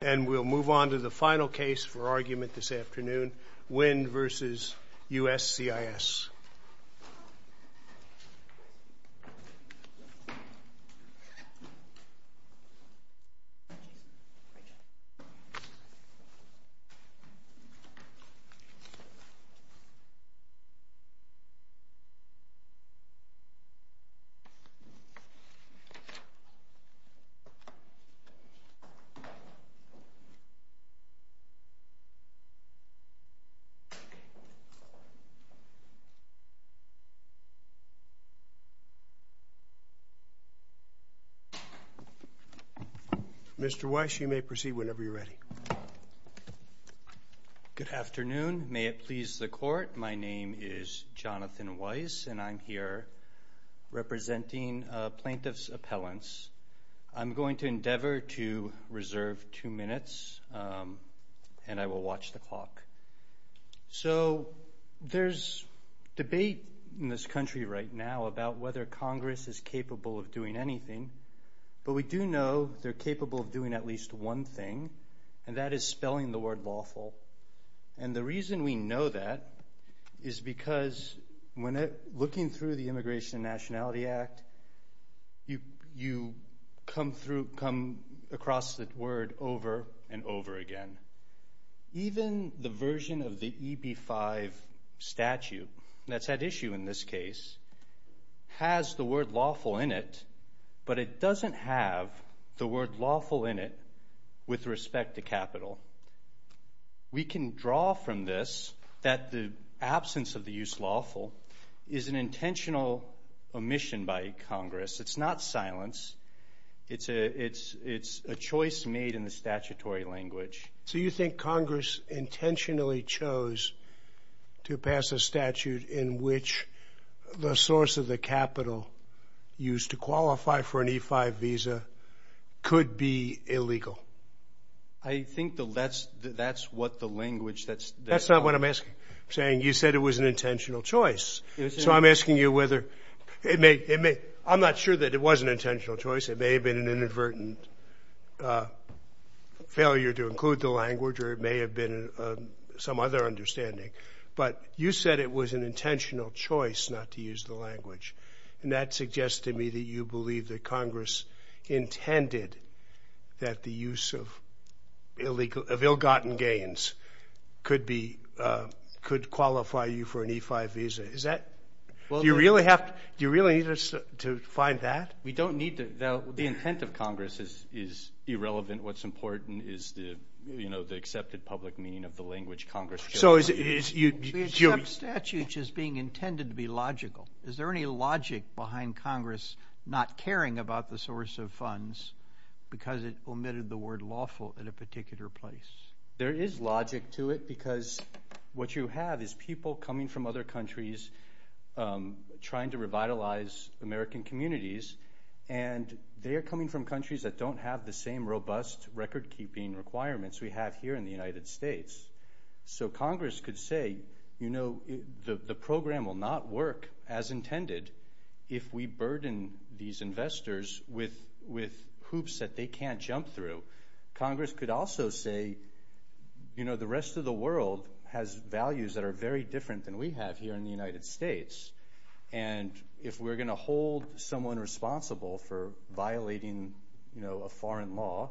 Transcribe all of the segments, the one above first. And we'll move on to the final case for argument this afternoon, Nguyen v. USCIS. Mr. Weiss, you may proceed whenever you're ready. Good afternoon. May it please the Court, my name is Jonathan Weiss and I'm here representing plaintiff's appellants. I'm going to endeavor to reserve two minutes and I will watch the clock. So there's debate in this country right now about whether Congress is capable of doing anything, but we do know they're capable of doing at least one thing, and that is spelling the word lawful. And the reason we know that is because when looking through the Immigration and Nationality Act, you come across that word over and over again. Even the version of the EB-5 statute that's at issue in this case has the word lawful in it, but it doesn't have the word lawful in it with respect to capital. We can draw from this that the absence of the use lawful is an intentional omission by Congress. It's not silence. It's a choice made in the statutory language. So you think Congress intentionally chose to pass a statute in which the source of the capital used to qualify for an E-5 visa could be illegal? I think that's what the language that's called. That's not what I'm asking. I'm saying you said it was an intentional choice. So I'm asking you whether it may – I'm not sure that it was an intentional choice. It may have been an inadvertent failure to include the language, or it may have been some other understanding. But you said it was an intentional choice not to use the language, and that suggests to me that you believe that Congress intended that the use of illegal – of ill-gotten gains could be – could qualify you for an E-5 visa. Is that – do you really have – do you really need to find that? We don't need to. The intent of Congress is irrelevant. What's important is the accepted public meaning of the language Congress chose. We accept statute as being intended to be logical. Is there any logic behind Congress not caring about the source of funds because it omitted the word lawful in a particular place? There is logic to it because what you have is people coming from other countries trying to revitalize American communities, and they are coming from countries that don't have the same robust record-keeping requirements we have here in the United States. So Congress could say, you know, the program will not work as intended if we burden these investors with hoops that they can't jump through. Congress could also say, you know, the rest of the world has values that are very different than we have here in the United States, and if we're going to hold someone responsible for violating, you know, a foreign law,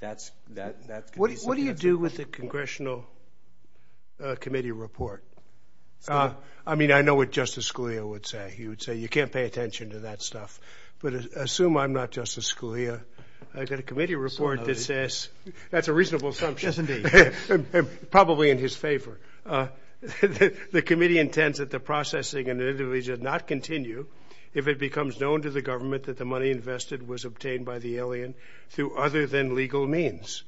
that's – What do you do with the congressional committee report? I mean, I know what Justice Scalia would say. He would say, you can't pay attention to that stuff. But assume I'm not Justice Scalia. I've got a committee report that says – that's a reasonable assumption. Yes, indeed. Probably in his favor. The committee intends that the processing and litigation not continue if it becomes known to the government that the money invested was obtained by the alien through other than legal means.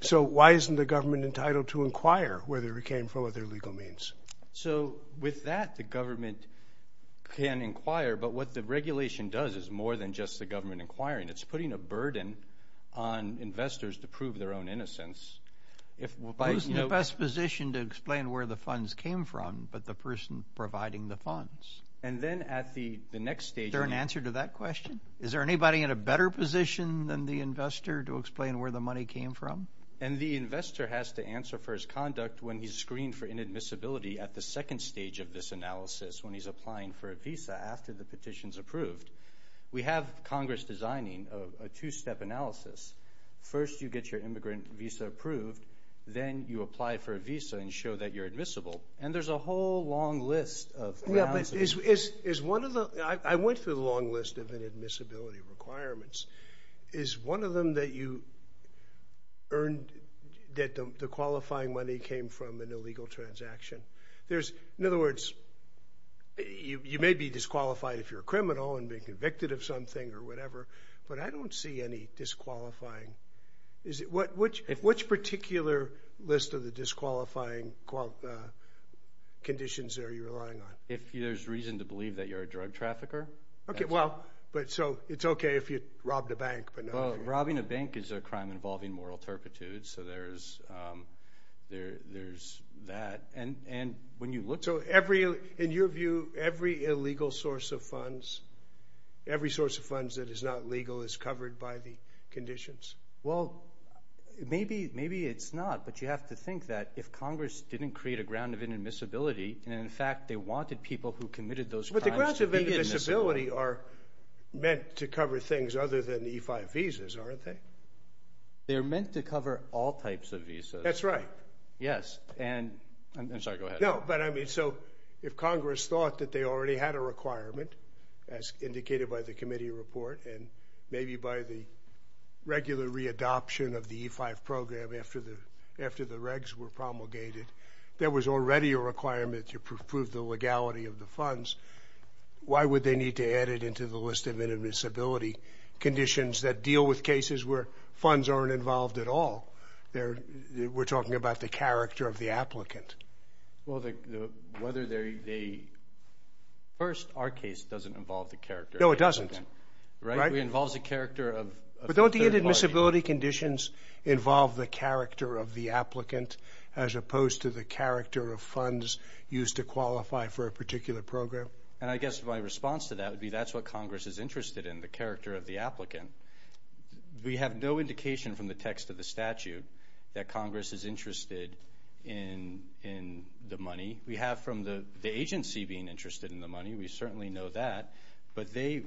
So why isn't the government entitled to inquire whether it came from other legal means? So with that, the government can inquire, but what the regulation does is more than just the government inquiring. It's putting a burden on investors to prove their own innocence. Who's in the best position to explain where the funds came from but the person providing the funds? And then at the next stage – Is there an answer to that question? Is there anybody in a better position than the investor to explain where the money came from? And the investor has to answer for his conduct when he's screened for inadmissibility at the second stage of this analysis when he's applying for a visa after the petition's approved. We have Congress designing a two-step analysis. First, you get your immigrant visa approved. Then you apply for a visa and show that you're admissible. And there's a whole long list of analysis. I went through the long list of inadmissibility requirements. Is one of them that the qualifying money came from an illegal transaction? In other words, you may be disqualified if you're a criminal and being convicted of something or whatever, but I don't see any disqualifying. Which particular list of the disqualifying conditions are you relying on? If there's reason to believe that you're a drug trafficker. Okay, well, but so it's okay if you robbed a bank. Robbing a bank is a crime involving moral turpitude, so there's that. And when you look – So in your view, every illegal source of funds, every source of funds that is not legal is covered by the conditions? Well, maybe it's not, but you have to think that if Congress didn't create a ground of inadmissibility, and in fact they wanted people who committed those crimes to be admissible. But the grounds of inadmissibility are meant to cover things other than the E-5 visas, aren't they? They're meant to cover all types of visas. That's right. Yes, and – I'm sorry, go ahead. No, but I mean, so if Congress thought that they already had a requirement, as indicated by the committee report, and maybe by the regular re-adoption of the E-5 program after the regs were promulgated, there was already a requirement to prove the legality of the funds, why would they need to add it into the list of inadmissibility conditions that deal with cases where funds aren't involved at all? We're talking about the character of the applicant. Well, whether they – first, our case doesn't involve the character of the applicant. No, it doesn't. Right? It involves the character of a third party. But don't the inadmissibility conditions involve the character of the applicant as opposed to the character of funds used to qualify for a particular program? And I guess my response to that would be that's what Congress is interested in, the character of the applicant. We have no indication from the text of the statute that Congress is interested in the money. We have from the agency being interested in the money. We certainly know that. But they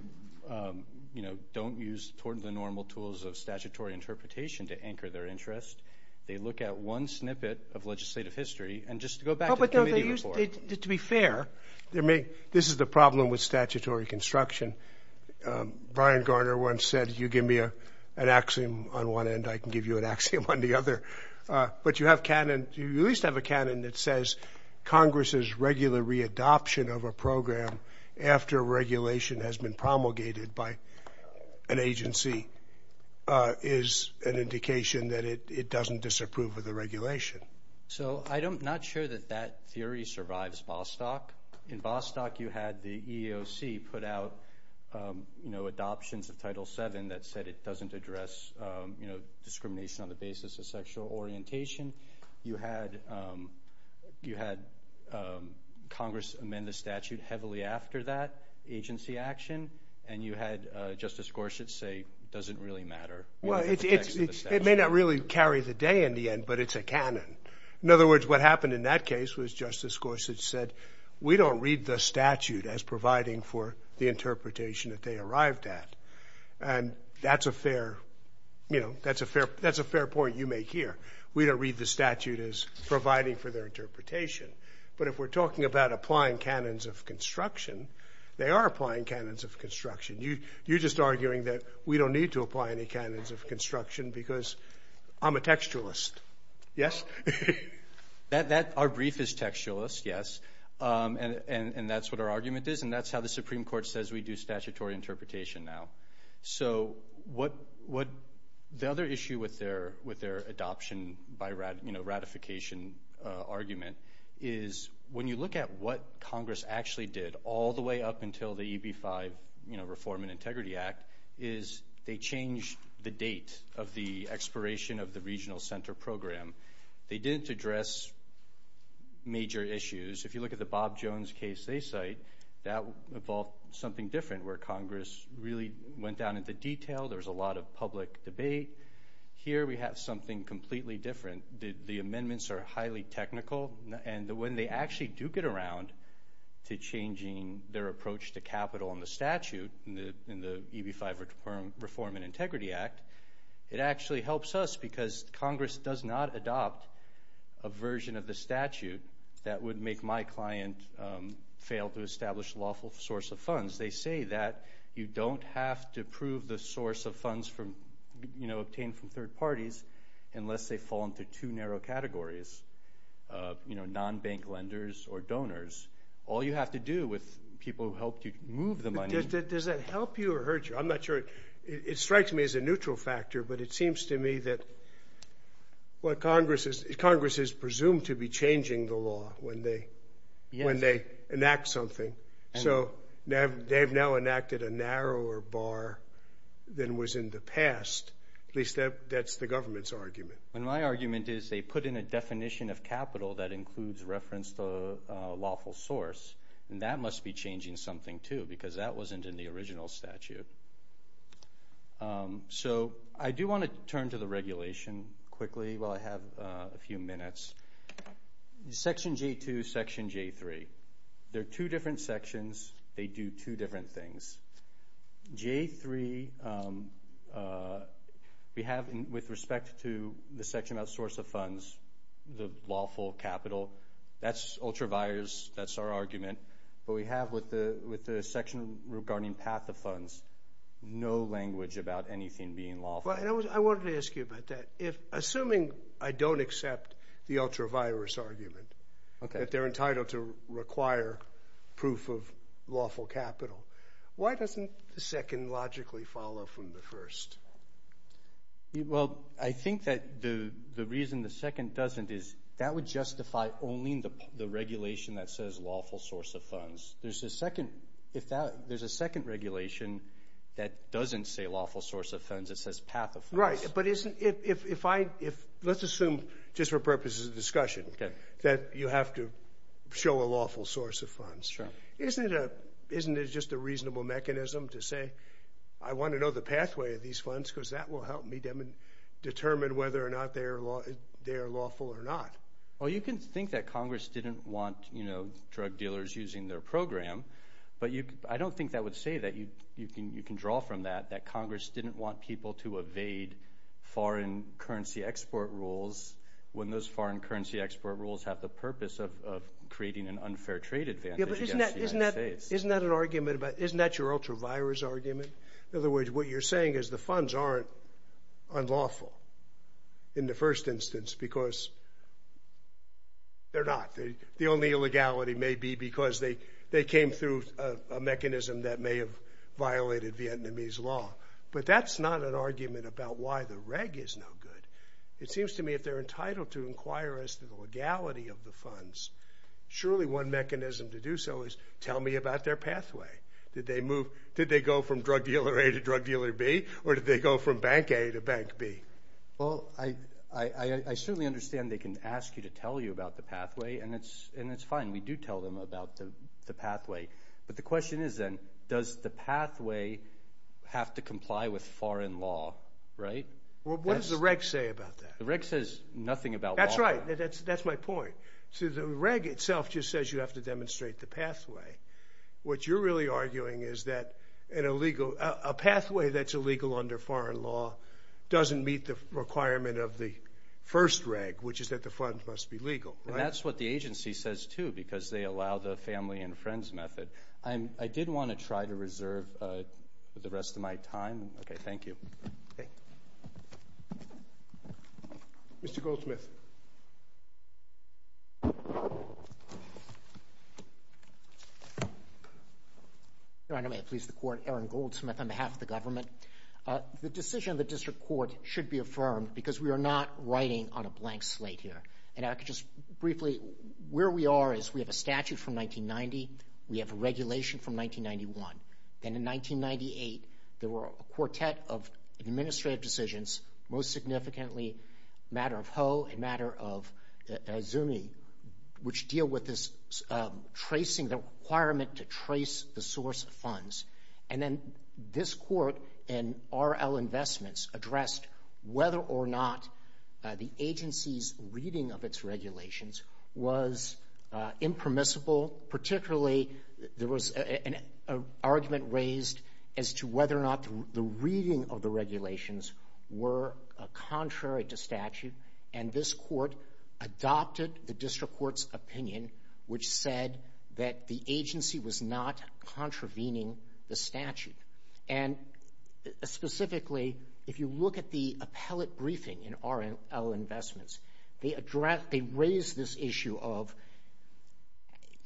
don't use the normal tools of statutory interpretation to anchor their interest. They look at one snippet of legislative history. And just to go back to the committee report. To be fair, this is the problem with statutory construction. Brian Garner once said, you give me an axiom on one end, I can give you an axiom on the other. But you have canon. You at least have a canon that says Congress's regular re-adoption of a program after regulation has been promulgated by an agency is an indication that it doesn't disapprove of the regulation. So I'm not sure that that theory survives Bostock. In Bostock you had the EEOC put out adoptions of Title VII that said it doesn't address discrimination on the basis of sexual orientation. You had Congress amend the statute heavily after that agency action. And you had Justice Gorsuch say it doesn't really matter. It may not really carry the day in the end, but it's a canon. In other words, what happened in that case was Justice Gorsuch said, we don't read the statute as providing for the interpretation that they arrived at. And that's a fair point you make here. We don't read the statute as providing for their interpretation. But if we're talking about applying canons of construction, they are applying canons of construction. You're just arguing that we don't need to apply any canons of construction because I'm a textualist. Yes? Our brief is textualist, yes. And that's what our argument is, and that's how the Supreme Court says we do statutory interpretation now. So the other issue with their adoption by ratification argument is when you look at what Congress actually did all the way up until the EB-5 Reform and Integrity Act is they changed the date of the expiration of the regional center program. They didn't address major issues. If you look at the Bob Jones case they cite, that involved something different where Congress really went down into detail. There was a lot of public debate. Here we have something completely different. The amendments are highly technical, and when they actually do get around to changing their approach to capital and the statute in the EB-5 Reform and Integrity Act, it actually helps us because Congress does not adopt a version of the statute that would make my client fail to establish a lawful source of funds. They say that you don't have to prove the source of funds obtained from third parties unless they fall into two narrow categories, non-bank lenders or donors. All you have to do with people who helped you move the money. Does that help you or hurt you? I'm not sure. It strikes me as a neutral factor, but it seems to me that Congress is presumed to be changing the law when they enact something. So they have now enacted a narrower bar than was in the past. At least that's the government's argument. My argument is they put in a definition of capital that includes reference to a lawful source, and that must be changing something too because that wasn't in the original statute. So I do want to turn to the regulation quickly while I have a few minutes. Section J-2, Section J-3. They're two different sections. They do two different things. J-3, we have with respect to the section about source of funds, the lawful capital, that's ultravirus. That's our argument. But we have with the section regarding path of funds, no language about anything being lawful. I wanted to ask you about that. Assuming I don't accept the ultravirus argument, that they're entitled to require proof of lawful capital, why doesn't the second logically follow from the first? Well, I think that the reason the second doesn't is that would justify only the regulation that says lawful source of funds. There's a second regulation that doesn't say lawful source of funds. It says path of funds. Right. But let's assume just for purposes of discussion that you have to show a lawful source of funds. Sure. Isn't it just a reasonable mechanism to say I want to know the pathway of these funds because that will help me determine whether or not they are lawful or not? Well, you can think that Congress didn't want drug dealers using their program, but I don't think that would say that. You can draw from that, that Congress didn't want people to evade foreign currency export rules when those foreign currency export rules have the purpose of creating an unfair trade advantage against the United States. Isn't that your ultravirus argument? In other words, what you're saying is the funds aren't unlawful in the first instance because they're not. The only illegality may be because they came through a mechanism that may have violated Vietnamese law. But that's not an argument about why the reg is no good. It seems to me if they're entitled to inquire as to the legality of the funds, surely one mechanism to do so is tell me about their pathway. Did they go from drug dealer A to drug dealer B, or did they go from bank A to bank B? Well, I certainly understand they can ask you to tell you about the pathway, and that's fine. We do tell them about the pathway. But the question is then, does the pathway have to comply with foreign law, right? Well, what does the reg say about that? The reg says nothing about law. That's right. That's my point. So the reg itself just says you have to demonstrate the pathway. What you're really arguing is that a pathway that's illegal under foreign law doesn't meet the requirement of the first reg, which is that the funds must be legal, right? And that's what the agency says, too, because they allow the family and friends method. I did want to try to reserve the rest of my time. Okay, thank you. Thank you. Mr. Goldsmith. Your Honor, may it please the Court, Aaron Goldsmith on behalf of the government. The decision of the district court should be affirmed because we are not writing on a blank slate here. And I could just briefly, where we are is we have a statute from 1990. We have a regulation from 1991. Then in 1998, there were a quartet of administrative decisions, most significantly matter of Ho and matter of Zuni, which deal with this tracing, the requirement to trace the source of funds. And then this court in RL Investments addressed whether or not the agency's reading of its regulations was impermissible, particularly there was an argument raised as to whether or not the reading of the regulations were contrary to statute. And this court adopted the district court's opinion, which said that the agency was not contravening the statute. And specifically, if you look at the appellate briefing in RL Investments, they raised this issue of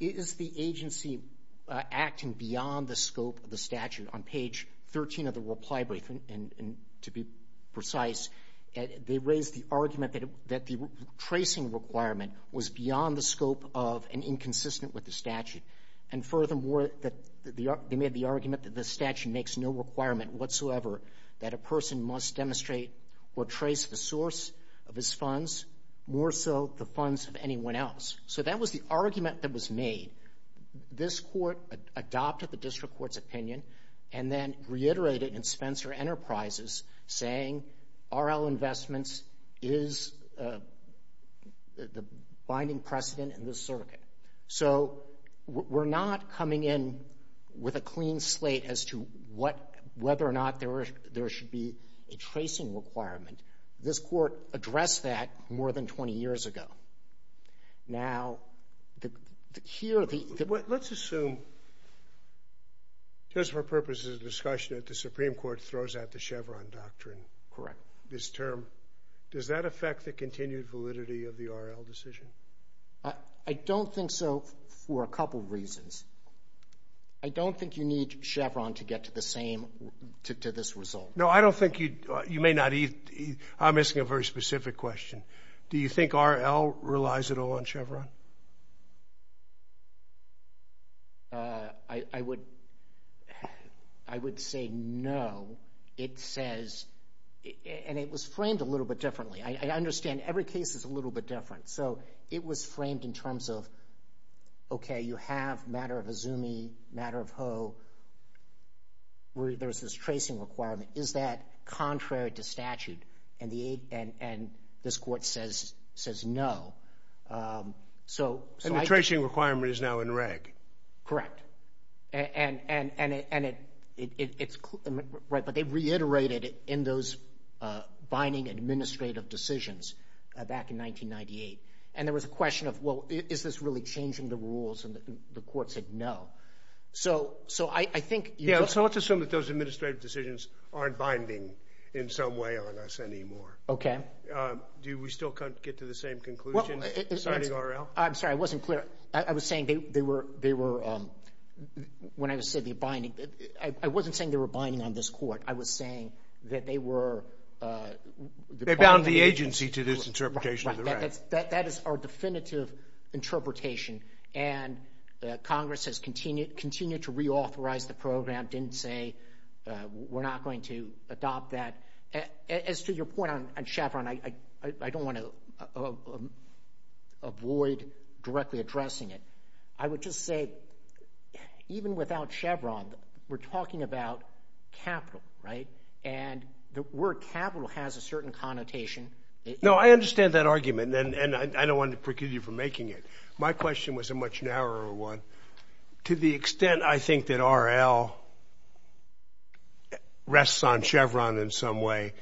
is the agency acting beyond the scope of the statute. On page 13 of the reply briefing, and to be precise, they raised the argument that the tracing requirement was beyond the scope of and inconsistent with the statute. And furthermore, they made the argument that the statute makes no requirement whatsoever that a person must demonstrate or trace the source of his funds, more so the funds of anyone else. So that was the argument that was made. This court adopted the district court's opinion and then reiterated in Spencer Enterprises, saying RL Investments is the binding precedent in this circuit. So we're not coming in with a clean slate as to whether or not there should be a tracing requirement. This court addressed that more than 20 years ago. Now, here the... Let's assume, just for purposes of discussion, that the Supreme Court throws out the Chevron doctrine. Correct. This term. Does that affect the continued validity of the RL decision? I don't think so for a couple reasons. I don't think you need Chevron to get to this result. No, I don't think you'd... You may not... I'm asking a very specific question. Do you think RL relies at all on Chevron? I would say no. It says... And it was framed a little bit differently. I understand every case is a little bit different. So it was framed in terms of, okay, you have a matter of Azumi, a matter of Ho. There's this tracing requirement. Is that contrary to statute? And this court says no. And the tracing requirement is now in reg. Correct. Right, but they reiterated it in those binding administrative decisions back in 1998. And there was a question of, well, is this really changing the rules? And the court said no. So I think... Yeah, so let's assume that those administrative decisions aren't binding in some way on us anymore. Okay. Do we still get to the same conclusion, signing RL? I'm sorry. I wasn't clear. I was saying they were, when I said they're binding, I wasn't saying they were binding on this court. I was saying that they were... They bound the agency to this interpretation of the right. That is our definitive interpretation. And Congress has continued to reauthorize the program, didn't say we're not going to adopt that. As to your point on Chevron, I don't want to avoid directly addressing it. I would just say, even without Chevron, we're talking about capital, right? And the word capital has a certain connotation. No, I understand that argument, and I don't want to preclude you from making it. My question was a much narrower one. To the extent, I think, that RL rests on Chevron in some way,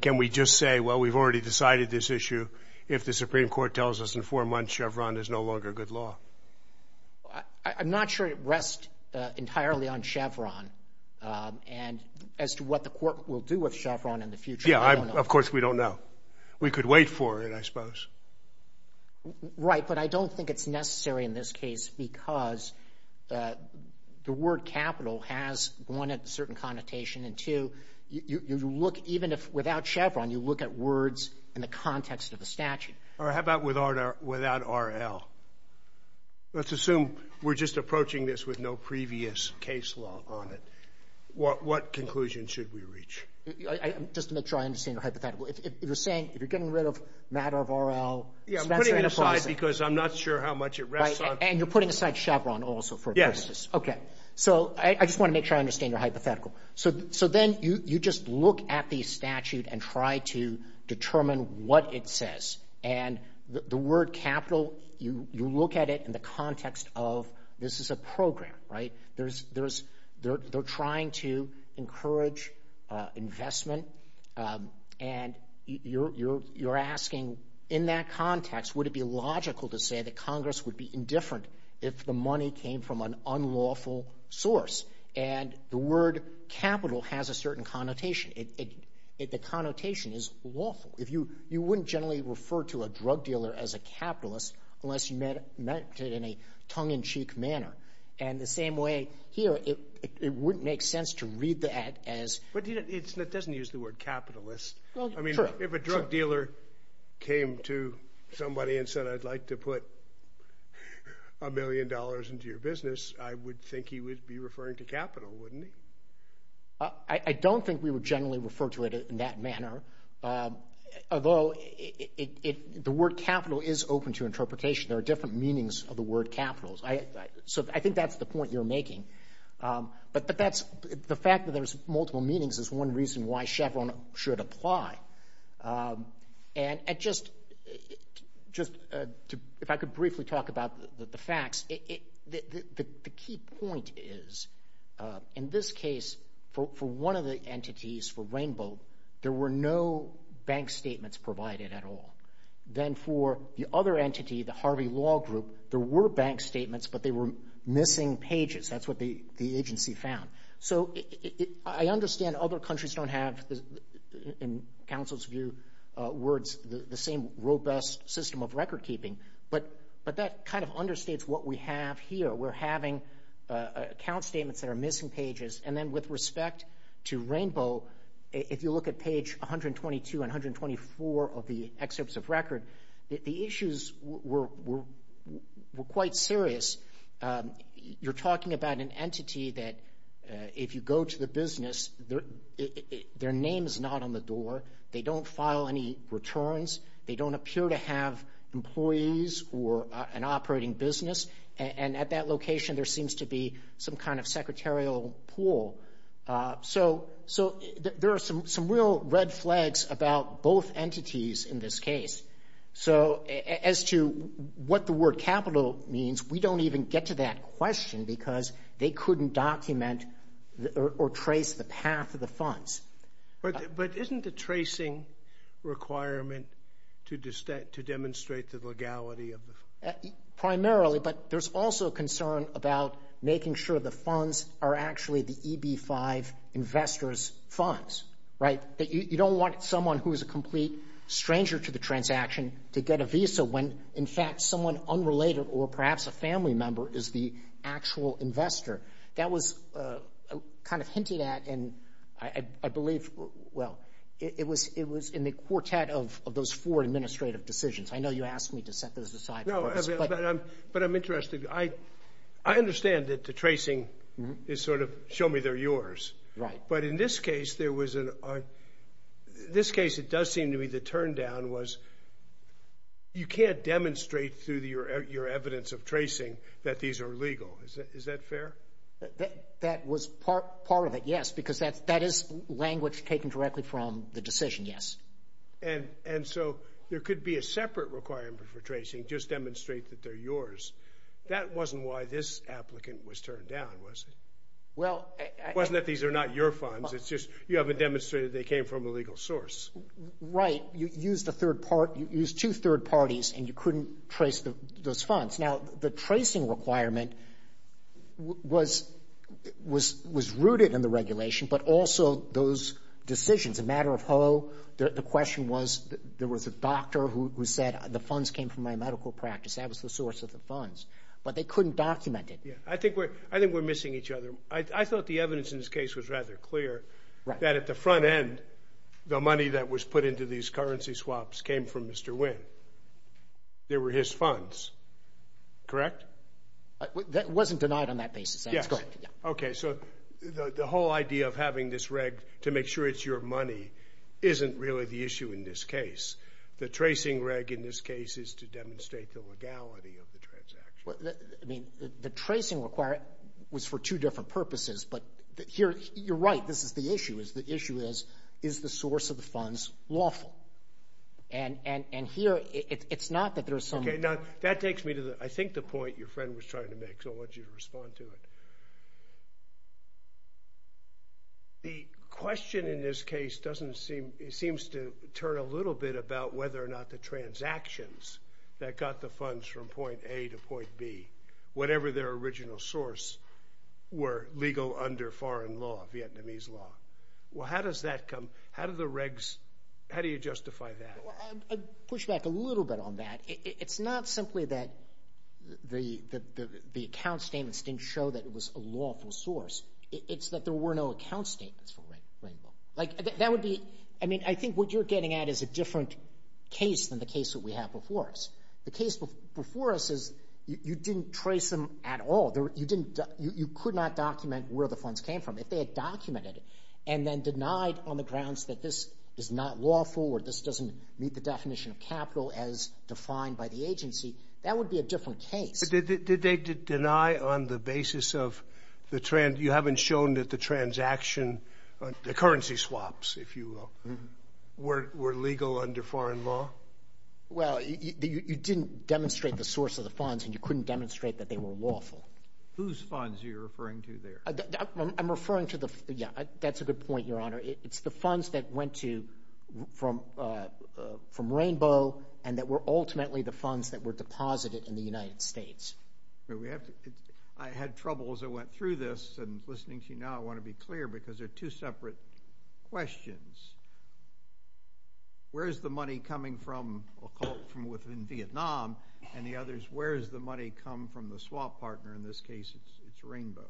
can we just say, well, we've already decided this issue, if the Supreme Court tells us in four months Chevron is no longer good law? I'm not sure it rests entirely on Chevron. And as to what the court will do with Chevron in the future, I don't know. Yeah, of course we don't know. We could wait for it, I suppose. Right, but I don't think it's necessary in this case because the word capital has, one, a certain connotation, and two, you look, even without Chevron, you look at words in the context of the statute. All right, how about without RL? Let's assume we're just approaching this with no previous case law on it. What conclusion should we reach? Just to make sure I understand your hypothetical. If you're saying, if you're getting rid of matter of RL. Yeah, I'm putting it aside because I'm not sure how much it rests on. And you're putting aside Chevron also for purposes. Yes. Okay, so I just want to make sure I understand your hypothetical. So then you just look at the statute and try to determine what it says. And the word capital, you look at it in the context of this is a program, right? They're trying to encourage investment, and you're asking, in that context, would it be logical to say that Congress would be indifferent if the money came from an unlawful source? And the word capital has a certain connotation. The connotation is lawful. You wouldn't generally refer to a drug dealer as a capitalist unless you meant it in a tongue-in-cheek manner. And the same way here, it wouldn't make sense to read that as... But it doesn't use the word capitalist. I mean, if a drug dealer came to somebody and said, I'd like to put a million dollars into your business, I would think he would be referring to capital, wouldn't he? I don't think we would generally refer to it in that manner. Although the word capital is open to interpretation. There are different meanings of the word capital. So I think that's the point you're making. But the fact that there's multiple meanings is one reason why Chevron should apply. And just if I could briefly talk about the facts... The key point is, in this case, for one of the entities, for Rainbow, there were no bank statements provided at all. Then for the other entity, the Harvey Law Group, there were bank statements, but they were missing pages. That's what the agency found. So I understand other countries don't have, in counsel's view, the same robust system of recordkeeping. But that kind of understates what we have here. We're having account statements that are missing pages. And then with respect to Rainbow, if you look at page 122 and 124 of the excerpts of record, the issues were quite serious. You're talking about an entity that, if you go to the business, their name is not on the door. They don't file any returns. They don't appear to have employees or an operating business. And at that location, there seems to be some kind of secretarial pool. So there are some real red flags about both entities in this case. So as to what the word capital means, we don't even get to that question because they couldn't document or trace the path of the funds. But isn't the tracing requirement to demonstrate the legality of the funds? Primarily, but there's also concern about making sure the funds are actually the EB-5 investors' funds, right, that you don't want someone who is a complete stranger to the transaction to get a visa when, in fact, someone unrelated or perhaps a family member is the actual investor. That was kind of hinted at, and I believe, well, it was in the quartet of those four administrative decisions. I know you asked me to set those aside. No, but I'm interested. I understand that the tracing is sort of, show me they're yours. But in this case, it does seem to me the turndown was you can't demonstrate through your evidence of tracing that these are legal. Is that fair? That was part of it, yes, because that is language taken directly from the decision, yes. And so there could be a separate requirement for tracing, just demonstrate that they're yours. That wasn't why this applicant was turned down, was it? It wasn't that these are not your funds. It's just you haven't demonstrated they came from a legal source. Right. You used two third parties, and you couldn't trace those funds. Now, the tracing requirement was rooted in the regulation, but also those decisions. A matter of ho, the question was there was a doctor who said, the funds came from my medical practice. That was the source of the funds, but they couldn't document it. I think we're missing each other. I thought the evidence in this case was rather clear that at the front end, the money that was put into these currency swaps came from Mr. Wynn. They were his funds, correct? That wasn't denied on that basis. Go ahead. Okay, so the whole idea of having this reg to make sure it's your money isn't really the issue in this case. The tracing reg in this case is to demonstrate the legality of the transaction. I mean, the tracing requirement was for two different purposes, but here, you're right, this is the issue. The issue is, is the source of the funds lawful? And here, it's not that there's some – Okay, now, that takes me to I think the point your friend was trying to make, because I want you to respond to it. The question in this case doesn't seem – it seems to turn a little bit about whether or not the transactions that got the funds from point A to point B, whatever their original source, were legal under foreign law, Vietnamese law. Well, how does that come – how do the regs – how do you justify that? I'd push back a little bit on that. It's not simply that the account statements didn't show that it was a lawful source. It's that there were no account statements for Rainbow. That would be – I mean, I think what you're getting at is a different case than the case that we have before us. The case before us is you didn't trace them at all. You could not document where the funds came from if they had documented it and then denied on the grounds that this is not lawful or this doesn't meet the definition of capital as defined by the agency. That would be a different case. Did they deny on the basis of the – you haven't shown that the transaction – the currency swaps, if you will, were legal under foreign law? Well, you didn't demonstrate the source of the funds and you couldn't demonstrate that they were lawful. Whose funds are you referring to there? I'm referring to the – yeah, that's a good point, Your Honor. It's the funds that went to – from Rainbow and that were ultimately the funds that were deposited in the United States. I had trouble as I went through this and listening to you now. I want to be clear because they're two separate questions. Where is the money coming from – I'll call it from within Vietnam and the others. Where does the money come from the swap partner? In this case, it's Rainbow.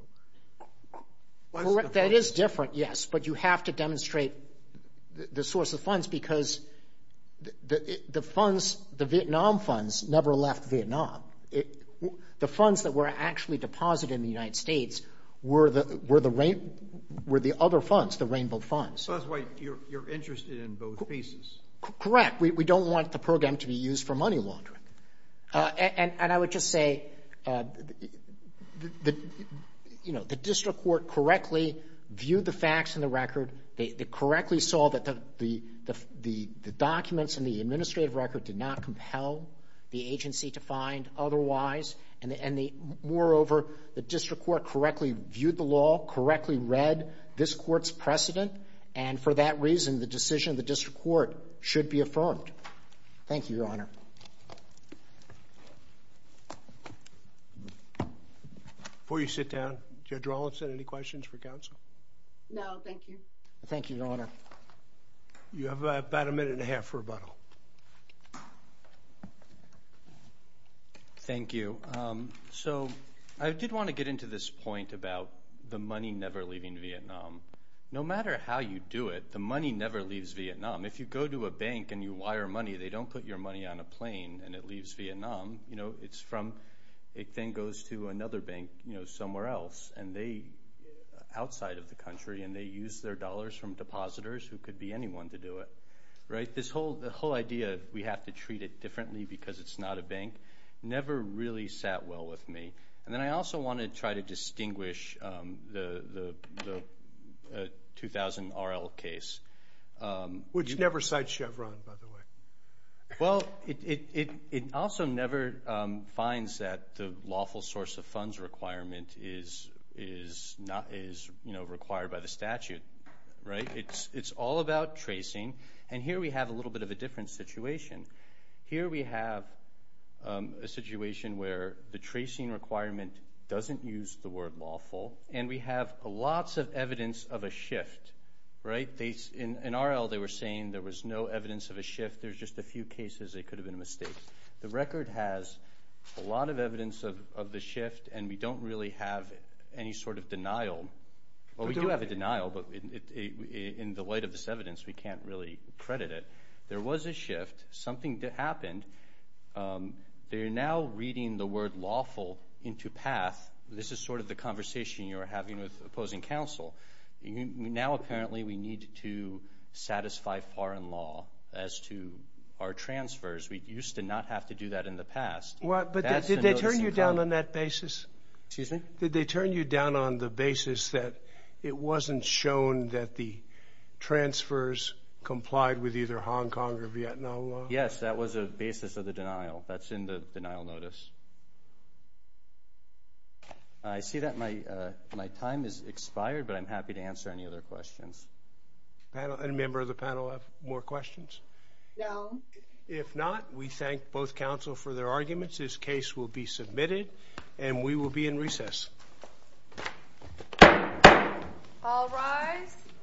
That is different, yes, but you have to demonstrate the source of funds because the funds – the Vietnam funds never left Vietnam. The funds that were actually deposited in the United States were the other funds, the Rainbow funds. So that's why you're interested in both pieces. Correct. We don't want the program to be used for money laundering. And I would just say, you know, the district court correctly viewed the facts in the record. They correctly saw that the documents in the administrative record did not compel the agency to find otherwise. And moreover, the district court correctly viewed the law, correctly read this court's precedent, and for that reason, the decision of the district court should be affirmed. Thank you, Your Honor. Before you sit down, Judge Rawlinson, any questions for counsel? No, thank you. Thank you, Your Honor. You have about a minute and a half for rebuttal. Thank you. So I did want to get into this point about the money never leaving Vietnam. No matter how you do it, the money never leaves Vietnam. If you go to a bank and you wire money, they don't put your money on a plane and it leaves Vietnam. It then goes to another bank somewhere else outside of the country, and they use their dollars from depositors who could be anyone to do it. This whole idea, we have to treat it differently because it's not a bank, never really sat well with me. And then I also want to try to distinguish the 2000 RL case. Which never cites Chevron, by the way. Well, it also never finds that the lawful source of funds requirement is required by the statute, right? It's all about tracing. And here we have a little bit of a different situation. Here we have a situation where the tracing requirement doesn't use the word lawful, and we have lots of evidence of a shift, right? In RL, they were saying there was no evidence of a shift. There's just a few cases it could have been a mistake. The record has a lot of evidence of the shift, and we don't really have any sort of denial. Well, we do have a denial, but in the light of this evidence, we can't really credit it. There was a shift. Something happened. They're now reading the word lawful into PATH. This is sort of the conversation you were having with opposing counsel. Now, apparently, we need to satisfy foreign law as to our transfers. We used to not have to do that in the past. But did they turn you down on that basis? Excuse me? Yes, that was a basis of the denial. That's in the denial notice. I see that my time has expired, but I'm happy to answer any other questions. Any member of the panel have more questions? No. If not, we thank both counsel for their arguments. This case will be submitted, and we will be in recess. All rise.